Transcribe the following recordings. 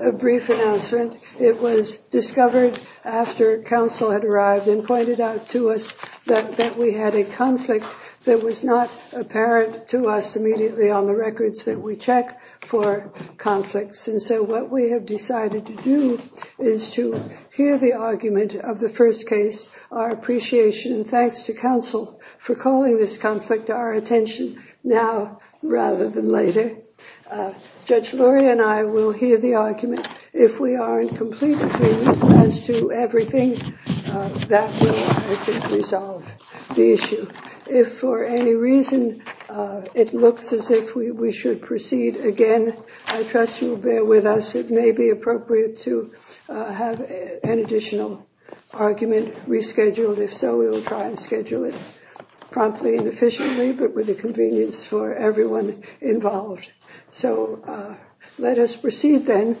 A brief announcement. It was discovered after counsel had arrived and pointed out to us that we had a conflict that was not apparent to us immediately on the records that we check for conflicts. And so what we have decided to do is to hear the argument of the first case, our appreciation and thanks to counsel for calling this conflict to our attention now rather than later. Judge Lori and I will hear the argument. If we are in complete agreement as to everything, that will, I think, resolve the issue. If for any reason it looks as if we should proceed again, I trust you will bear with us. It may be appropriate to have an additional argument rescheduled. If so, we will try and schedule it promptly and efficiently, but with the convenience for everyone involved. So let us proceed then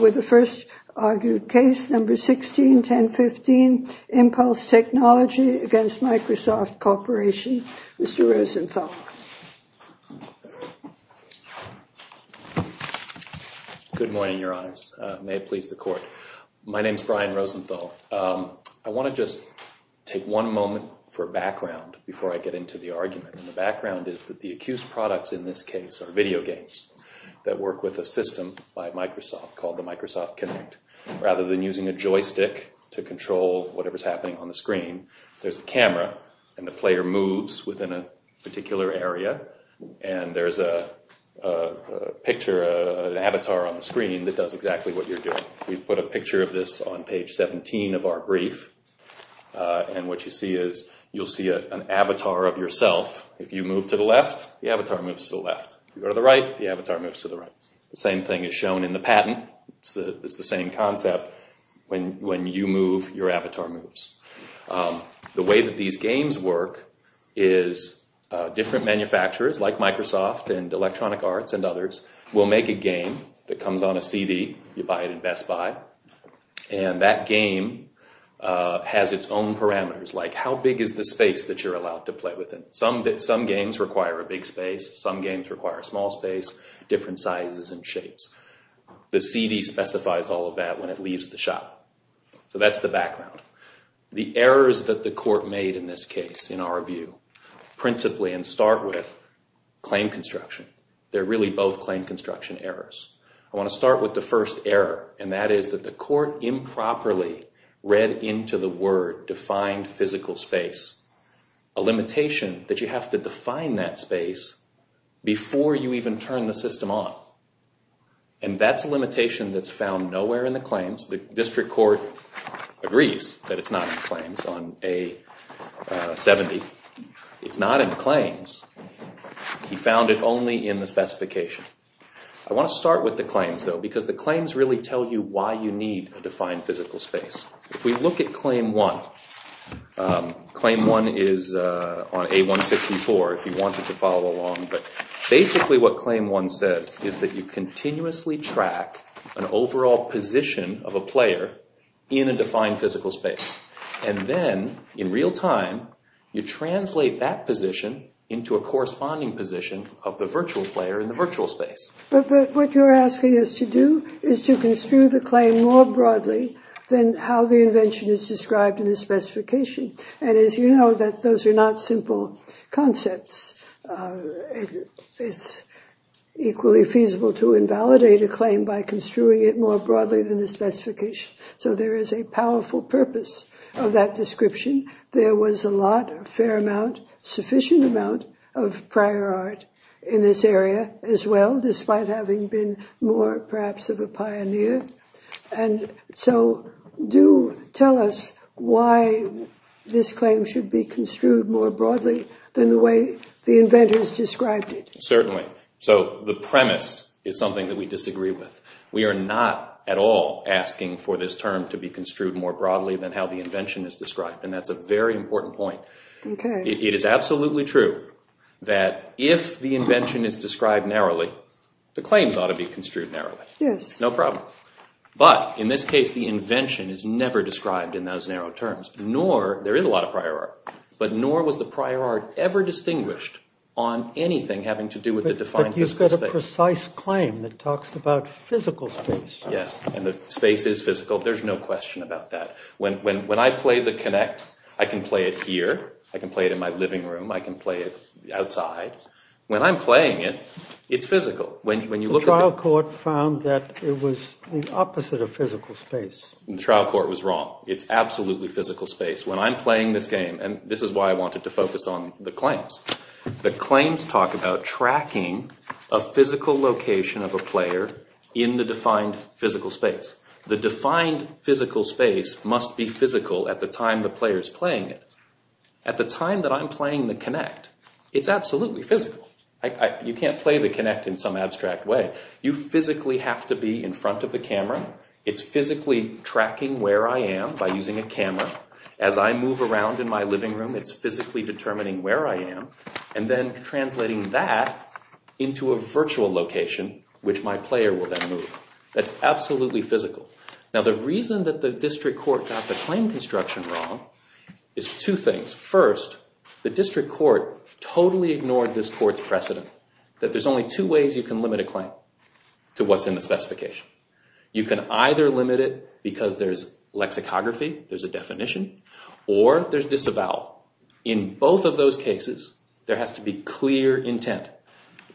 with the first argued case, number 161015, Impulse Technology v. Microsoft Corporation. Mr. Rosenthal. Good morning, Your Honors. May it please the Court. My name is Brian Rosenthal. I want to just take one moment for background before I get into the argument. And the background is that accused products in this case are video games that work with a system by Microsoft called the Microsoft Kinect. Rather than using a joystick to control whatever is happening on the screen, there is a camera and the player moves within a particular area and there is a picture, an avatar on the screen that does exactly what you are doing. We have put a picture of this on page 17 of our brief and what you see is an avatar of yourself. If you move to the left, the avatar moves to the left. If you go to the right, the avatar moves to the right. The same thing is shown in the patent. It is the same concept. When you move, your avatar moves. The way that these games work is different manufacturers like Microsoft and Electronic Spy and that game has its own parameters like how big is the space that you are allowed to play within. Some games require a big space. Some games require a small space, different sizes and shapes. The CD specifies all of that when it leaves the shop. So that is the background. The errors that the Court made in this case, in our view, principally and start with, claim construction. They are really both claim construction errors. I want to start with the first error and that is that the Court improperly read into the word defined physical space, a limitation that you have to define that space before you even turn the system on. That is a limitation that is found nowhere in the claims. The District Court agrees that it is not in the claims on A-70. It is not in the specification. I want to start with the claims though because the claims really tell you why you need a defined physical space. If we look at Claim 1, Claim 1 is on A-164 if you wanted to follow along, but basically what Claim 1 says is that you continuously track an overall position of a player in a defined physical space and then in real time you translate that position into a corresponding position of the virtual player in the virtual space. But what you're asking us to do is to construe the claim more broadly than how the invention is described in the specification and as you know that those are not simple concepts. It's equally feasible to invalidate a claim by construing it more broadly than the specification. So there is a powerful purpose of that description. There was a lot, a fair amount, sufficient amount of prior art in this area as well despite having been more perhaps of a pioneer and so do tell us why this claim should be construed more broadly than the way the inventors described it. Certainly. So the premise is something that we disagree with. We are not at all asking for this term to be more broadly than how the invention is described and that's a very important point. Okay. It is absolutely true that if the invention is described narrowly, the claims ought to be construed narrowly. Yes. No problem. But in this case the invention is never described in those narrow terms nor, there is a lot of prior art, but nor was the prior art ever distinguished on anything having to do with the defined physical space. But you've got a precise claim that talks about physical space. Yes. And the space is physical. There's no question about that. When I play The Connect, I can play it here. I can play it in my living room. I can play it outside. When I'm playing it, it's physical. When you look at the trial court found that it was the opposite of physical space. The trial court was wrong. It's absolutely physical space. When I'm playing this game, and this is why I wanted to focus on the claims, the claims talk about tracking a physical location of a player in the defined physical space. The defined physical space must be physical at the time the player is playing it. At the time that I'm playing The Connect, it's absolutely physical. You can't play The Connect in some abstract way. You physically have to be in front of the camera. It's physically tracking where I am by using a camera. As I move around in my living room, it's physically determining where I am and then translating that into a virtual location, which my player will then move. That's absolutely physical. Now, the reason that the district court got the claim construction wrong is two things. First, the district court totally ignored this court's precedent that there's only two ways you can limit a claim to what's in the specification. You can either limit it because there's lexicography, there's a definition, or there's disavowal. In both of those cases, there has to be clear intent.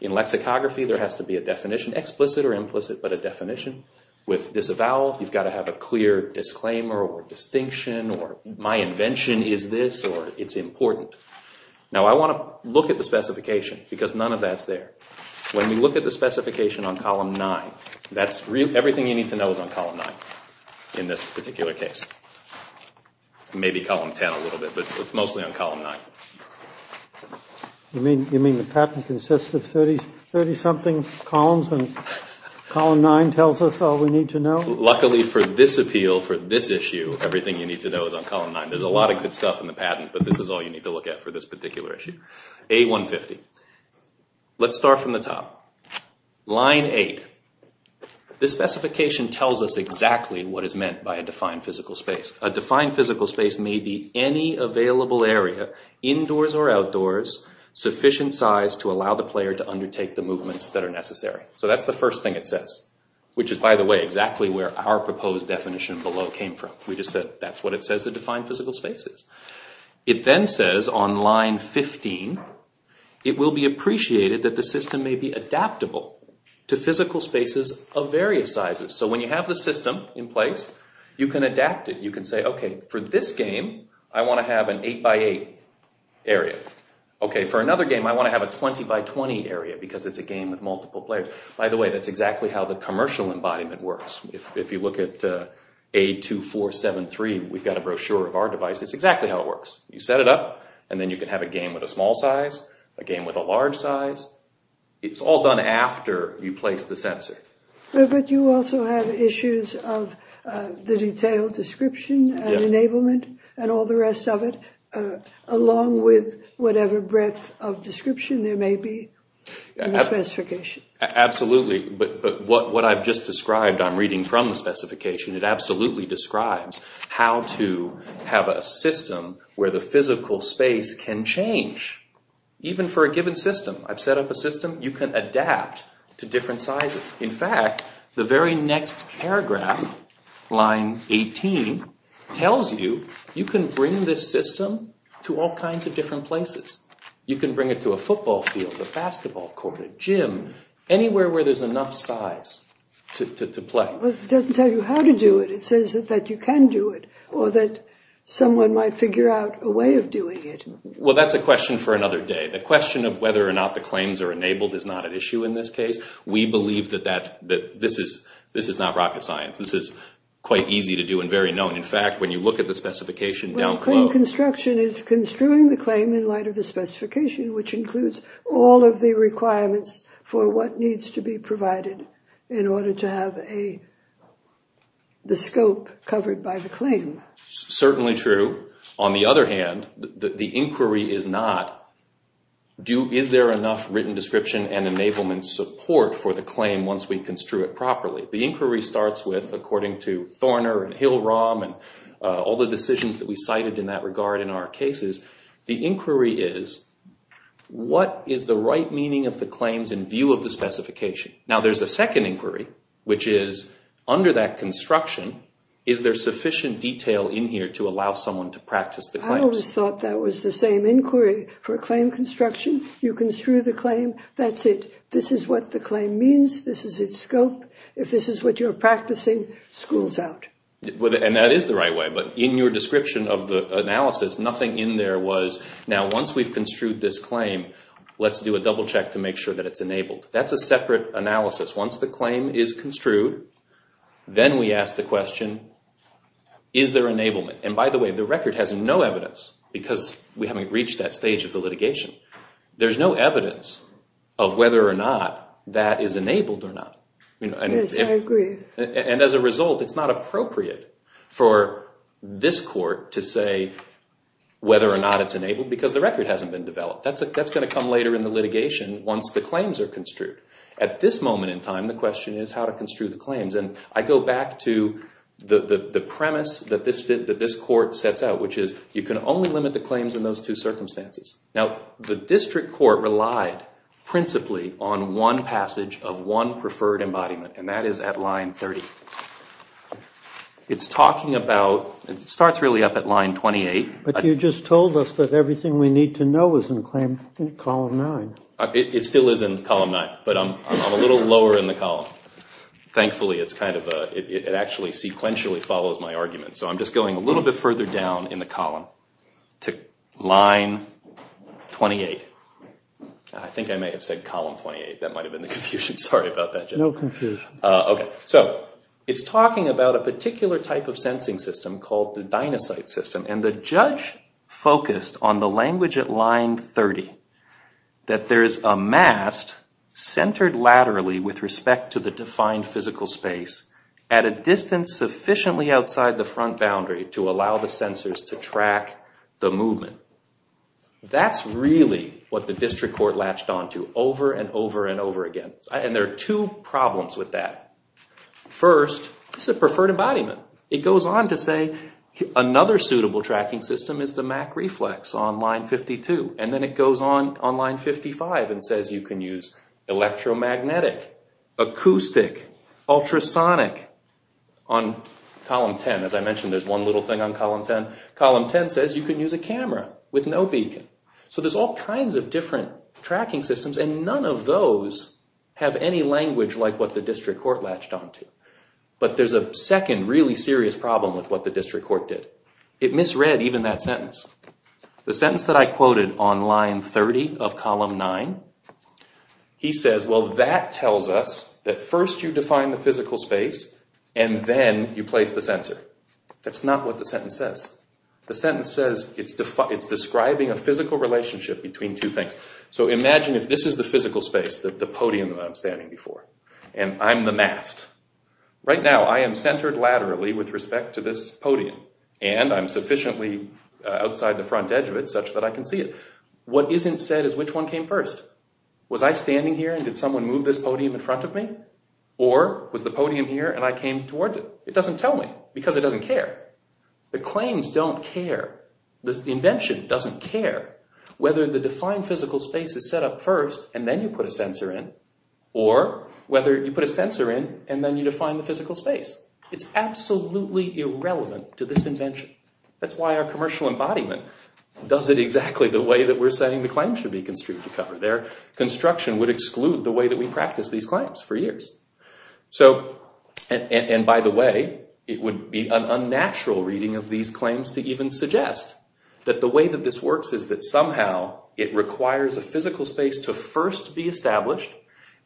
In lexicography, there has to be a definition, explicit or implicit, but a definition. With disavowal, you've got to have a clear disclaimer or distinction or my invention is this or it's important. Now, I want to look at the specification because none of that's there. When we look at the specification on column 9, that's everything you need to know is on column 9 in this particular case. Maybe column 10 a little bit, but it's mostly on column 9. You mean the patent consists of 30-something columns and column 9 tells us all we need to know? Luckily for this appeal, for this issue, everything you need to know is on column 9. There's a lot of good stuff in the patent, but this is all you need to look at for this particular issue. A-150. Let's start from the top. Line 8. This specification tells us exactly what is a defined physical space. A defined physical space may be any available area, indoors or outdoors, sufficient size to allow the player to undertake the movements that are necessary. That's the first thing it says, which is, by the way, exactly where our proposed definition below came from. That's what it says a defined physical space is. It then says on line 15, it will be appreciated that the system may be adaptable to physical spaces of various sizes. When you have the system in place, you can adapt it. You can say, okay, for this game, I want to have an 8x8 area. Okay, for another game, I want to have a 20x20 area because it's a game with multiple players. By the way, that's exactly how the commercial embodiment works. If you look at A2473, we've got a brochure of our device. It's exactly how it works. You set it up, and then you can have a game with a small size, a game with a large size. It's all done after you place the sensor. But you also have issues of the detailed description and enablement and all the rest of it, along with whatever breadth of description there may be in the specification. Absolutely. But what I've just described, I'm reading from the specification, it absolutely describes how to have a system where the physical space can change, even for a given system. I've the very next paragraph, line 18, tells you you can bring this system to all kinds of different places. You can bring it to a football field, a basketball court, a gym, anywhere where there's enough size to play. But it doesn't tell you how to do it. It says that you can do it, or that someone might figure out a way of doing it. Well, that's a question for another day. The question of whether or not the claims are enabled is not an issue in this case. We believe that this is not rocket science. This is quite easy to do and very known. In fact, when you look at the specification down below... When claim construction is construing the claim in light of the specification, which includes all of the requirements for what needs to be provided in order to have the scope covered by the claim. Certainly true. On the other hand, the inquiry is not, is there enough written description and enablement support for the claim once we construe it properly? The inquiry starts with, according to Thorner and Hill-Rom and all the decisions that we cited in that regard in our cases, the inquiry is, what is the right meaning of the claims in view of the specification? Now, there's a second inquiry, which is, under that construction, is there sufficient detail in here to allow someone to practice the claims? I always thought that was the same inquiry for claim construction. You construe the claim. That's it. This is what the claim means. This is its scope. If this is what you're practicing, school's out. And that is the right way. But in your description of the analysis, nothing in there was, now, once we've construed this claim, let's do a double check to make sure that it's enabled. That's a separate analysis. Once the claim is construed, then we ask the question, is there enablement? And by the way, the record has no evidence because we haven't reached that stage of the litigation. There's no evidence of whether or not that is enabled or not. Yes, I agree. And as a result, it's not appropriate for this court to say whether or not it's enabled because the record hasn't been developed. That's going to come later in the litigation once the claims are construed. At this moment in time, the question is how to I go back to the premise that this court sets out, which is you can only limit the claims in those two circumstances. Now, the district court relied principally on one passage of one preferred embodiment, and that is at line 30. It's talking about, it starts really up at line 28. But you just told us that everything we need to know is in claim column 9. It still is in column 9, but I'm a little lower in the column. Thankfully, it actually sequentially follows my argument. So I'm just going a little bit further down in the column to line 28. I think I may have said column 28. That might have been the confusion. Sorry about that, Judge. No confusion. Okay. So it's talking about a particular type of sensing system called the dynasite system, and the judge focused on the language at line 30, that there is a mast centered laterally with respect to the defined physical space at a distance sufficiently outside the front boundary to allow the sensors to track the movement. That's really what the district court latched on to over and over and over again, and there are two problems with that. First, it's a preferred embodiment. It goes on to say another suitable tracking system is the MacReflex on line 52, and then it goes on on line 55 and says you can use electromagnetic, acoustic, ultrasonic on column 10. As I mentioned, there's one little thing on column 10. Column 10 says you can use a camera with no beacon. So there's all kinds of different tracking systems, and none of those have any language like what the district court latched on to. But there's a second really serious problem with what the district court did. It misread even that sentence. The sentence that I quoted on line 30 of column 9, he says, well, that tells us that first you define the physical space, and then you place the sensor. That's not what the sentence says. The sentence says it's describing a physical relationship between two things. So imagine if this is the physical space, the podium that I'm standing before, and I'm the mast. Right now I am centered laterally with respect to this podium, and I'm sufficiently outside the front edge of it such that I can see it. What isn't said is which one came first. Was I standing here and did someone move this podium in front of me? Or was the podium here and I came towards it? It doesn't tell me because it doesn't care. The claims don't care. The invention doesn't care whether the defined physical space is set up first and then you put a sensor in or whether you put a sensor in and then you define the physical space. It's absolutely irrelevant to this invention. That's why our commercial embodiment does it exactly the way that we're saying the claim should be construed to cover. Their construction would exclude the way that we practice these claims for years. So, and by the way, it would be an unnatural reading of these claims to even suggest that the way that this works is that somehow it requires a physical space to first be established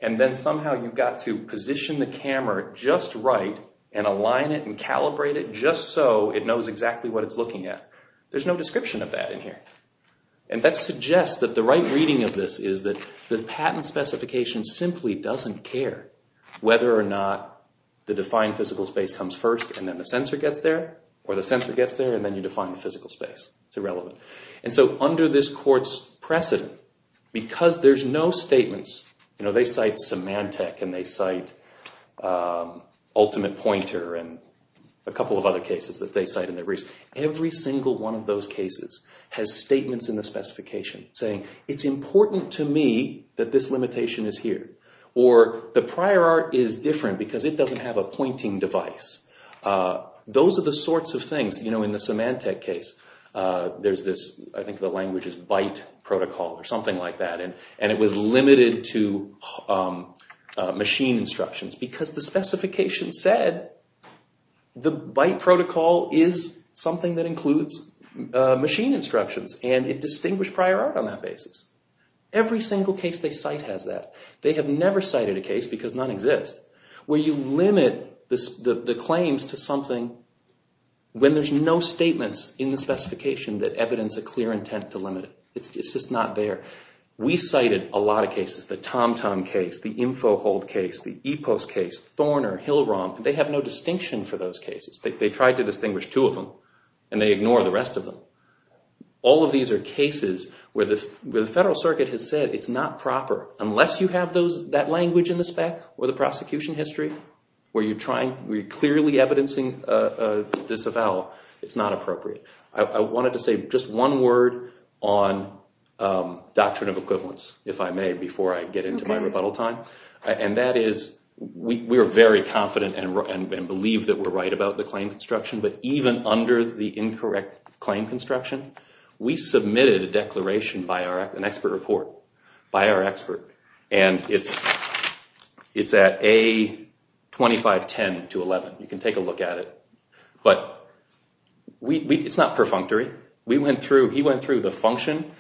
and then somehow you've got to position the camera just right and align it and calibrate it just so it knows exactly what it's looking at. There's no description of that in here. And that suggests that the right reading of this is that the patent specification simply doesn't care whether or not the defined physical space comes first and then the sensor gets there or the sensor gets there and then you define the physical space. It's irrelevant. And so under this court's precedent, because there's no statements, you know, they cite Symantec and they cite Ultimate Pointer and a couple of other cases that they cite in their briefs. Every single one of those cases has statements in the specification saying it's important to me that this limitation is here or the prior art is different because it doesn't have a pointing device. Those are the sorts of things, you know, in the Symantec case, there's this, I think the language is byte protocol or something like that, and it was limited to machine instructions because the specification said the byte protocol is something that includes machine instructions and it distinguished prior art on that basis. Every single case they cite has that. They have never cited a case, because none exist, where you limit the claims to something when there's no statements in the specification that evidence a clear intent to limit it. It's just not there. We cited a lot of cases, the TomTom case, the Info Hold case, the Epos case, Thorner, Hill-Rom, they have no distinction for those cases. They tried to distinguish two of them and they ignore the rest of them. All of these are cases where the Federal Circuit has said it's not proper unless you have those, that language in the spec or the prosecution history, where you're trying, you're clearly evidencing disavowal. It's not appropriate. I wanted to say just one word on doctrine of equivalence, if I may, before I get into my rebuttal time, and that is we're very confident and believe that we're right about the claim construction, but even under the incorrect claim construction, we submitted a expert report by our expert, and it's at A2510-11. You can take a look at it, but it's not perfunctory. He went through the function,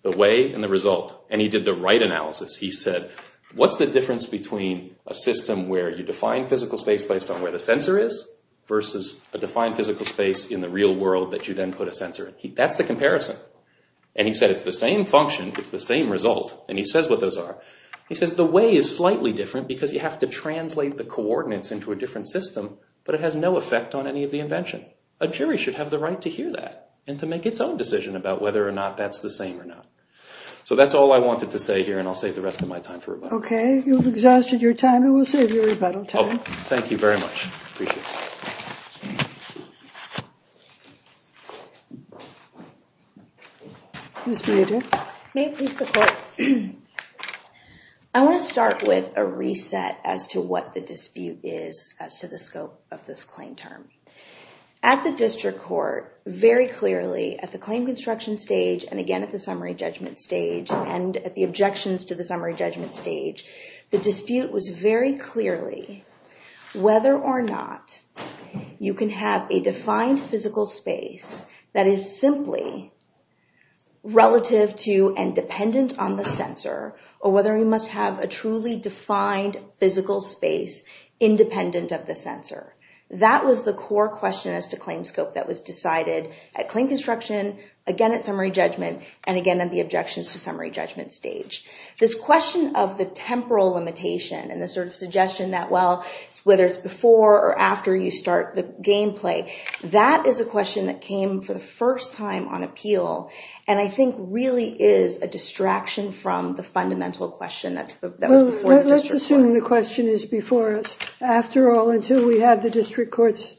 the way, and the result, and he did the right analysis. He said, what's the difference between a system where you define physical space based on where the sensor is versus a defined physical space in the real world that you then put a sensor in? That's the comparison, and he said it's the same function, it's the same result, and he says what those are. He says the way is slightly different because you have to translate the coordinates into a different system, but it has no effect on any of the invention. A jury should have the right to hear that and to make its own decision about whether or not that's the same or not. So that's all I wanted to say here, and I'll save the rest of my time for rebuttal. Okay, you've exhausted your time, and we'll save your rebuttal time. Thank you very much. I want to start with a reset as to what the dispute is as to the scope of this claim term. At the district court, very clearly at the claim construction stage, and again at the summary judgment stage, and at the objections to the summary judgment stage, the dispute was very clearly whether or not you can have a defined physical space that is simply relative to and dependent on the sensor or whether we must have a truly defined physical space independent of the sensor. That was the core question as to claim scope that was decided at claim construction, again at summary judgment, and again at the objections to summary stage. This question of the temporal limitation and the sort of suggestion that, well, whether it's before or after you start the game play, that is a question that came for the first time on appeal and I think really is a distraction from the fundamental question that was before. Let's assume the question is before us. After all, until we had the district court's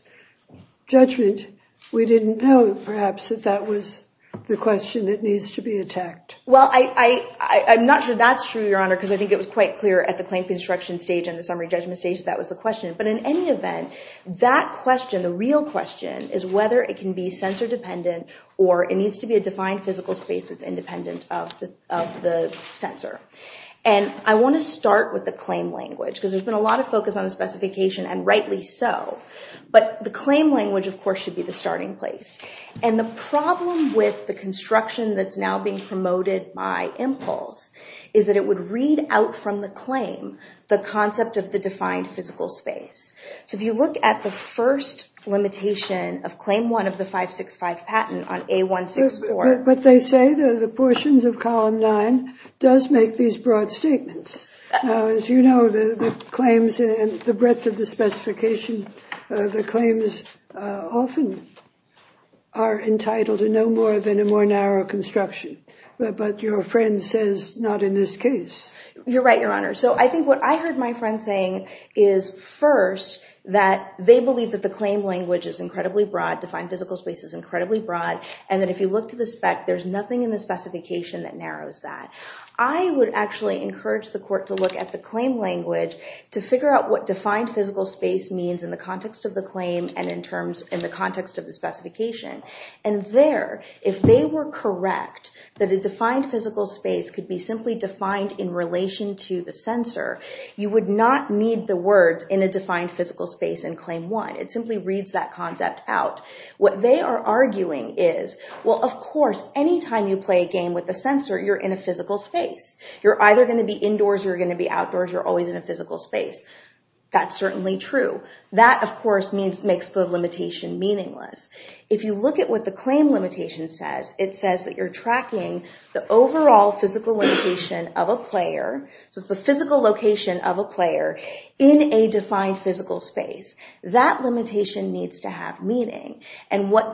judgment, we didn't know perhaps that that was the question that needs to be attacked. Well, I'm not sure that's true, Your Honor, because I think it was quite clear at the claim construction stage and the summary judgment stage that was the question. But in any event, that question, the real question, is whether it can be sensor dependent or it needs to be a defined physical space that's independent of the sensor. And I want to start with the claim language because there's been a lot of focus on the specification and rightly so. But the claim language, of course, should be the starting place. And the problem with the construction that's now being promoted by impulse is that it would read out from the claim the concept of the defined physical space. So if you look at the first limitation of claim one of the 565 patent on A164. But they say that the portions of column nine does make these broad statements. Now, as you know, the claims and the breadth of the are entitled to no more than a more narrow construction. But your friend says not in this case. You're right, Your Honor. So I think what I heard my friend saying is first that they believe that the claim language is incredibly broad. Defined physical space is incredibly broad. And then if you look to the spec, there's nothing in the specification that narrows that. I would actually encourage the court to look at the claim language to figure out what defined space means in the context of the claim and in the context of the specification. And there, if they were correct, that a defined physical space could be simply defined in relation to the censor, you would not need the words in a defined physical space in claim one. It simply reads that concept out. What they are arguing is, well, of course, anytime you play a game with the censor, you're in a physical space. You're either going to be indoors, you're going to be outdoors, you're always in a physical space. That's certainly true. That, of course, makes the limitation meaningless. If you look at what the claim limitation says, it says that you're tracking the overall physical limitation of a player, so it's the physical location of a player, in a defined physical space. That limitation needs to have meaning. And what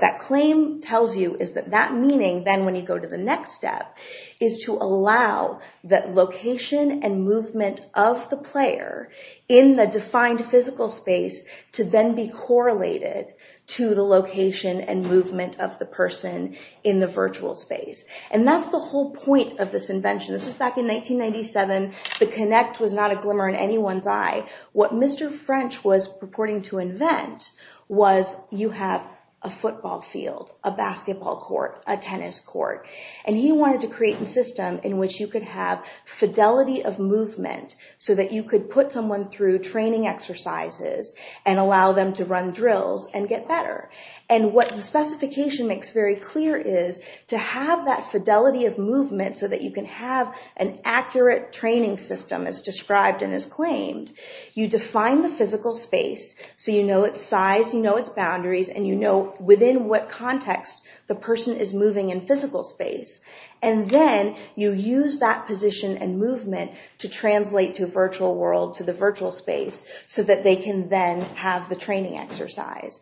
that claim tells you is that meaning, then when you go to the next step, is to allow that location and movement of the player in the defined physical space to then be correlated to the location and movement of the person in the virtual space. And that's the whole point of this invention. This was back in 1997. The connect was not a glimmer in anyone's eye. What Mr. French was purporting to invent was you have a football field, a basketball court, a tennis court, and he wanted to create a system in which you could have fidelity of movement so that you could put someone through training exercises and allow them to run drills and get better. And what the specification makes very clear is to have that fidelity of movement so that you can have an accurate training system, as described and as claimed. You define the physical space so you know its size, you know its boundaries, and you know within what context the person is moving in physical space. And then you use that position and movement to translate to a virtual world, to the virtual space, so that they can then have the training exercise.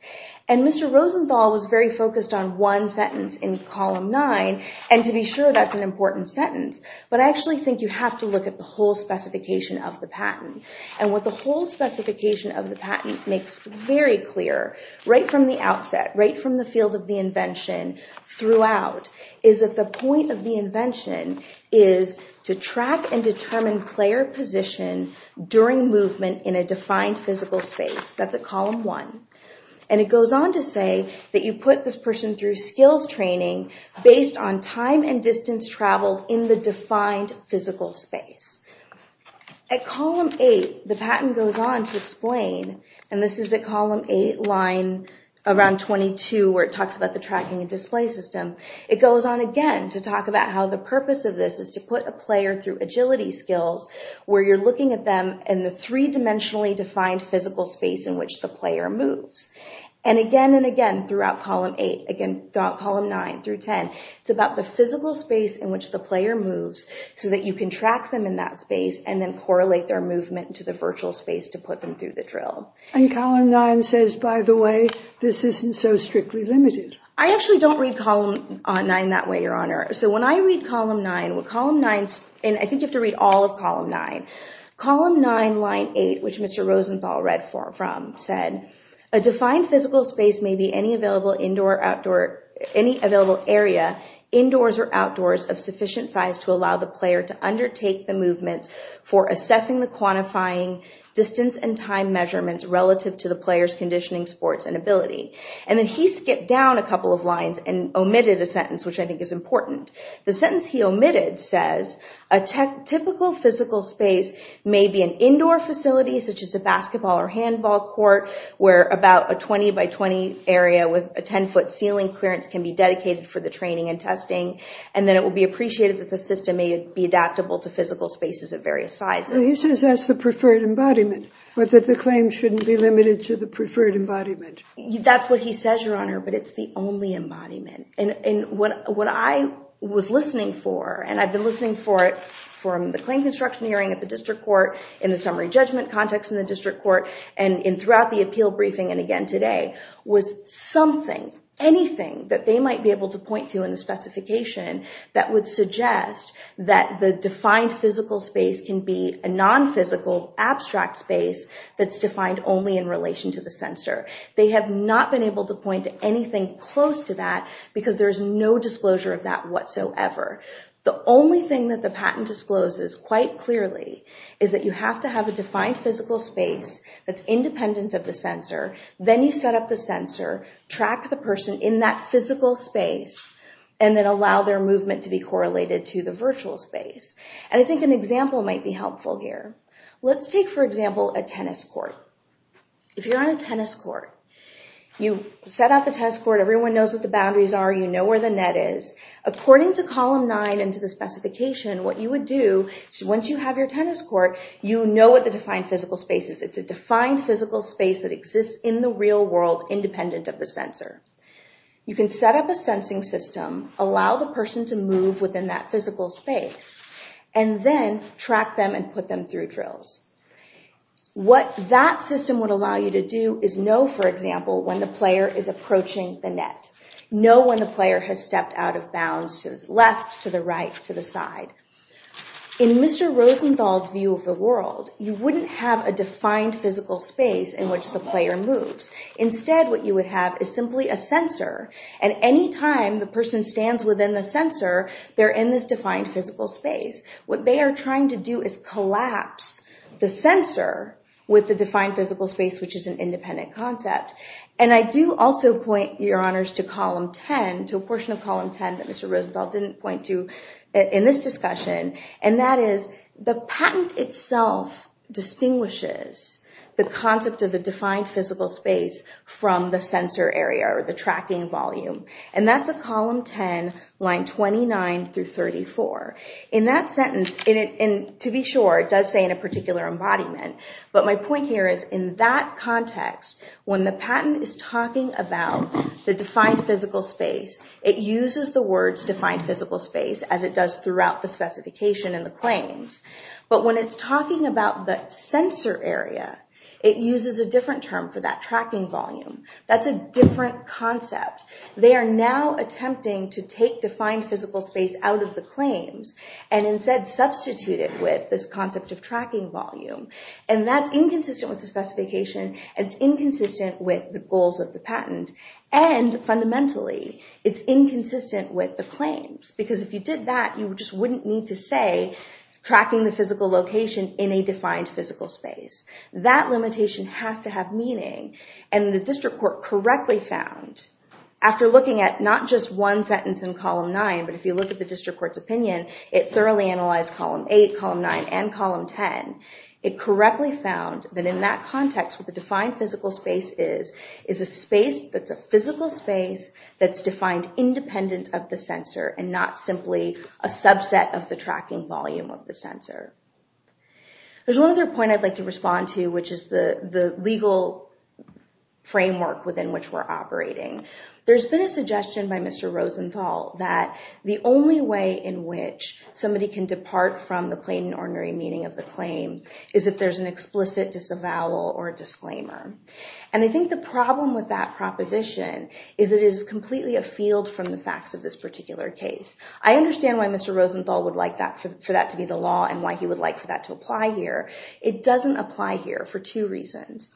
And Mr. Rosenthal was very focused on one sentence in column nine, and to be sure that's an important sentence. But I actually think you have to look at the whole specification of the patent. And what the whole specification of the patent makes very clear, right from the outset, right from the field of the invention throughout, is that the point of the invention is to track and determine player position during movement in a defined physical space. That's at column one. And it goes on to say that you put this person through skills training based on time and distance traveled in the defined physical space. At column eight, the patent goes on to explain, and this is at column eight, line around 22, where it talks about the tracking and display system. It goes on again to talk about how the purpose of this is to put a player through agility skills, where you're looking at them in the three-dimensionally defined physical space in which the player moves. And again and again throughout column eight, again throughout column nine through 10, it's about the physical space in which the player moves so that you can track them in that space and then correlate their movement to the virtual space to put them through the drill. And column nine says, by the way, this isn't so strictly limited. I actually don't read column nine that way, Your Honor. So when I read column nine, and I think you have to read all of column nine. Column nine, line eight, which Mr. Rosenthal read from, said, a defined physical space may be any available indoor or outdoor, any available area, indoors or outdoors, of sufficient size to allow the player to undertake the movements for assessing the quantifying distance and time measurements relative to the player's conditioning sports and ability. And then he skipped down a couple of lines and omitted a sentence, which I think is important. The sentence he omitted says a typical physical space may be an indoor facility, such as a basketball or handball court, where about a 20 by 20 area with a 10-foot ceiling clearance can be dedicated for the training and testing. And then it will be appreciated that the system may be adaptable to physical spaces of various sizes. And he says that's the preferred embodiment, but that the claim shouldn't be limited to the preferred embodiment. That's what he says, Your Honor, but it's the only embodiment. And what I was listening for, and I've been listening for it from the claim construction hearing at the district court, in the summary judgment context in the district court, and throughout the appeal briefing and again today, was something, anything that they might be able to point to in the specification that would suggest that the defined physical space can be a non-physical abstract space that's defined only in relation to the sensor. They have not been able to point to anything close to that because there's no disclosure of that whatsoever. The only thing that the patent discloses quite clearly is that you have to have a defined physical space that's independent of the sensor. Then you set up the sensor, track the person in that physical space, and then allow their movement to be correlated to the virtual space. And I think an example might be helpful here. Let's take, for example, a tennis court. If you're on a tennis court, you set out the tennis court, everyone knows what the boundaries are, you know where the net is. According to once you have your tennis court, you know what the defined physical space is. It's a defined physical space that exists in the real world independent of the sensor. You can set up a sensing system, allow the person to move within that physical space, and then track them and put them through drills. What that system would allow you to do is know, for example, when the player is approaching the net. Know when the player has stepped out of bounds to the left, to the right, to the side. In Mr. Rosenthal's view of the world, you wouldn't have a defined physical space in which the player moves. Instead, what you would have is simply a sensor. And any time the person stands within the sensor, they're in this defined physical space. What they are trying to do is collapse the sensor with the defined physical space, which is an independent concept. And I do also point your honors to column 10, to a portion of column 10 that Mr. Rosenthal didn't point to in this discussion. And that is the patent itself distinguishes the concept of the defined physical space from the sensor area or the tracking volume. And that's a column 10, line 29 through 34. In that sentence, to be sure, it does say in a particular embodiment. But my point here is in that context, when the patent is talking about the defined physical space, it uses the words defined physical space as it does throughout the specification and the claims. But when it's talking about the sensor area, it uses a different term for that tracking volume. That's a different concept. They are now attempting to take defined physical space out of the claims and instead substitute it with this concept of tracking volume. And that's inconsistent with the claims. Because if you did that, you just wouldn't need to say tracking the physical location in a defined physical space. That limitation has to have meaning. And the district court correctly found, after looking at not just one sentence in column 9, but if you look at the district court's opinion, it thoroughly analyzed column 8, column 9, and column 10. It correctly found that in that context, the defined physical space is a space that's a physical space that's defined independent of the sensor and not simply a subset of the tracking volume of the sensor. There's one other point I'd like to respond to, which is the legal framework within which we're operating. There's been a suggestion by Mr. Rosenthal that the only way in which somebody can depart from the plain and ordinary meaning of the claim is if there's an explicit disavowal or disclaimer. And I think the problem with that proposition is it is completely a field from the facts of this particular case. I understand why Mr. Rosenthal would like that for that to be the law and why he would like for that to apply here. It doesn't apply here for two reasons.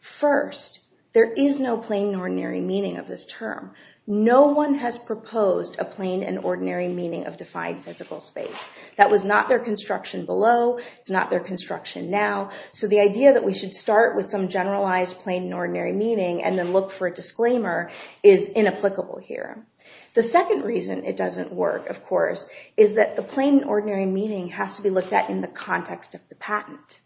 First, there is no plain and ordinary meaning of this term. No one has proposed a plain and ordinary meaning of defined physical space. That was not their construction below. It's not their construction now. So the idea that we should start with some generalized plain and ordinary meaning and then look for a disclaimer is inapplicable here. The second reason it doesn't work, of course, is that the plain and ordinary meaning has to be looked at in the context of the patent.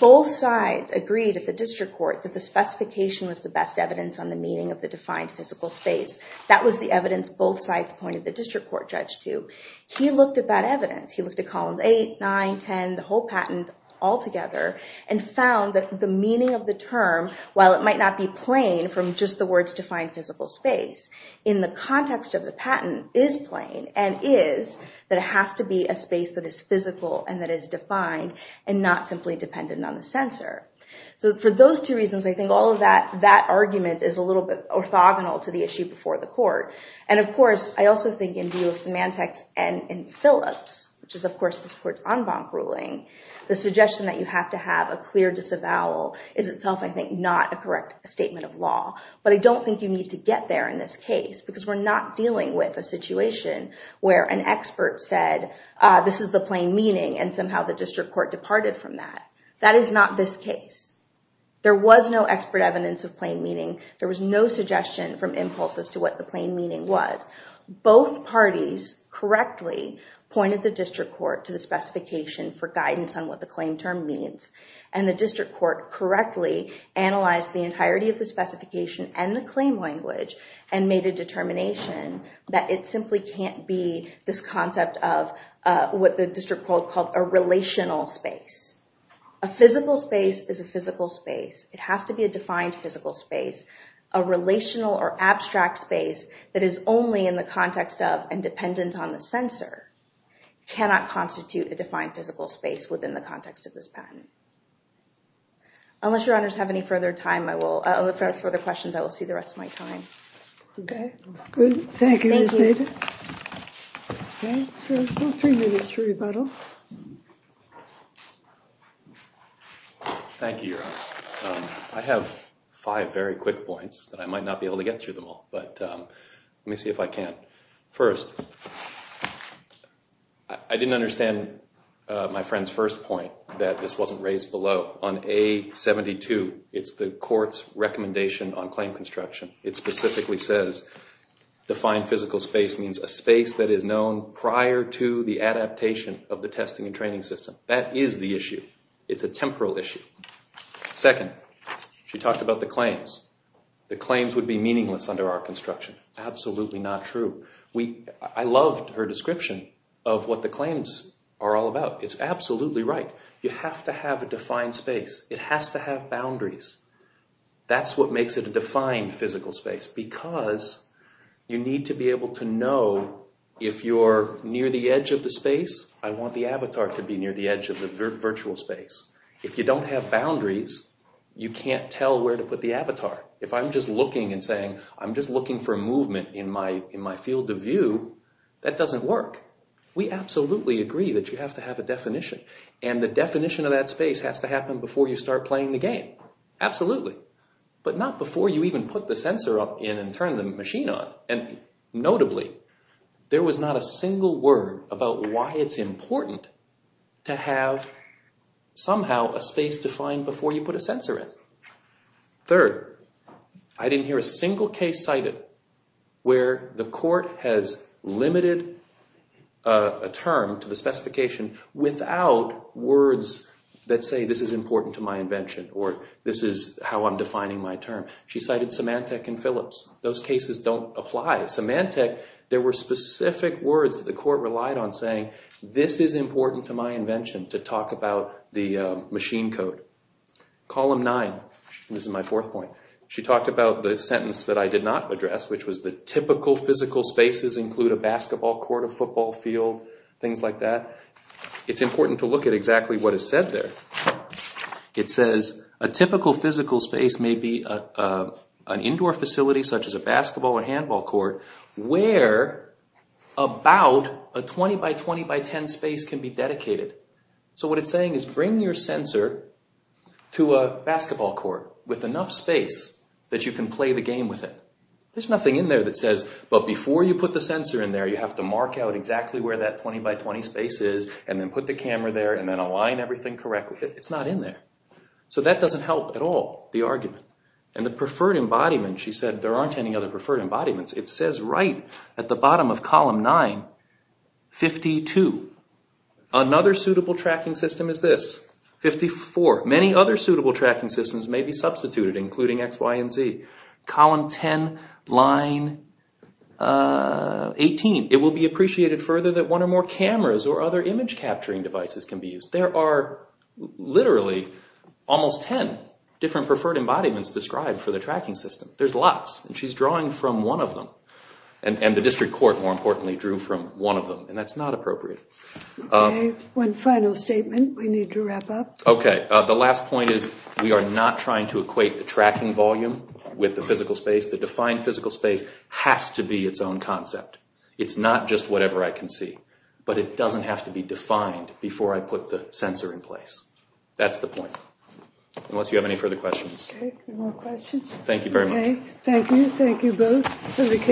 Both sides agreed at the district court that the specification was the best evidence on the meaning of the defined physical space. That was the evidence both sides pointed the district court judge to. He looked at that evidence. He looked at column 8, 9, 10, the whole patent altogether and found that the meaning of the term, while it might not be plain from just the words defined physical space, in the context of the patent is plain and is that it has to be a space that is physical and that is defined and not simply dependent on the censor. So for those two reasons, I think all of that argument is a court. And of course, I also think in view of semantics and in Phillips, which is, of course, this court's en banc ruling, the suggestion that you have to have a clear disavowal is itself, I think, not a correct statement of law. But I don't think you need to get there in this case because we're not dealing with a situation where an expert said this is the plain meaning and somehow the district court departed from that. That is not this case. There was no expert evidence of plain meaning. There was no suggestion from impulses to what the plain meaning was. Both parties correctly pointed the district court to the specification for guidance on what the claim term means. And the district court correctly analyzed the entirety of the specification and the claim language and made a determination that it simply can't be this concept of what the district called a relational space. A physical space is a physical space. It has to be a defined physical space. A relational or abstract space that is only in the context of and dependent on the censor cannot constitute a defined physical space within the context of this patent. Unless your honors have any further questions, I will see the rest of my time. Okay, good. Thank you, Ms. Bader. Three minutes for rebuttal. Thank you, your honors. I have five very quick points that I might not be able to get through them all, but let me see if I can. First, I didn't understand my friend's first point that this wasn't raised below. On A72, it's the court's recommendation on claim construction. It specifically says defined physical space means a space that is known prior to the adaptation of the testing and training system. That is the issue. It's a temporal issue. Second, she talked about the claims. The claims would be meaningless under our construction. Absolutely not true. I loved her description of what the claims are all about. It's absolutely right. You have to have a defined space. It has to have boundaries. That's what makes it a defined physical space, because you need to be able to know if you're near the edge of the space, I want the avatar to be near the edge of the virtual space. If you don't have boundaries, you can't tell where to put the avatar. If I'm just looking and saying, I'm just looking for movement in my field of view, that doesn't work. We absolutely agree that you have to have a definition. And the definition of that space has to happen before you start playing the game. Absolutely. But not before you even put the sensor up in and turn the machine on. And notably, there was not a single word about why it's important to have somehow a space defined before you put a sensor in. Third, I didn't hear a single case cited where the court has limited a term to the specification without words that say, this is important to my invention, or this is how I'm defining my term. She cited Symantec and Phillips. Those cases don't apply. Symantec, there were specific words that the court relied on saying, this is important to my invention to talk about the machine code. Column nine, this is my fourth point. She talked about the sentence that I did not address, which was the typical physical spaces include a basketball court, a football field, things like that. It's important to look at exactly what is said there. It says, a typical physical space may be an indoor facility such as a basketball or handball court where about a 20 by 20 by 10 space can be dedicated. So what it's saying is bring your There's nothing in there that says, but before you put the sensor in there, you have to mark out exactly where that 20 by 20 space is and then put the camera there and then align everything correctly. It's not in there. So that doesn't help at all, the argument. And the preferred embodiment, she said, there aren't any other preferred embodiments. It says right at the bottom of column nine, 52. Another suitable tracking system is this, 54. Many other suitable tracking systems may be substituted, including X, Y, and Z. Column 10, line 18. It will be appreciated further that one or more cameras or other image capturing devices can be used. There are literally almost 10 different preferred embodiments described for the tracking system. There's lots, and she's drawing from one of them. And the district court, more importantly, drew from one of them, and that's not appropriate. Okay, one final statement. We need to wrap up. Okay, the last point is we are not trying to equate the tracking volume with the physical space. The defined physical space has to be its own concept. It's not just whatever I can see, but it doesn't have to be defined before I put the sensor in place. That's the point. Unless you have any further questions. Okay, any more questions? Thank you very much. Okay, thank you. Thank you both.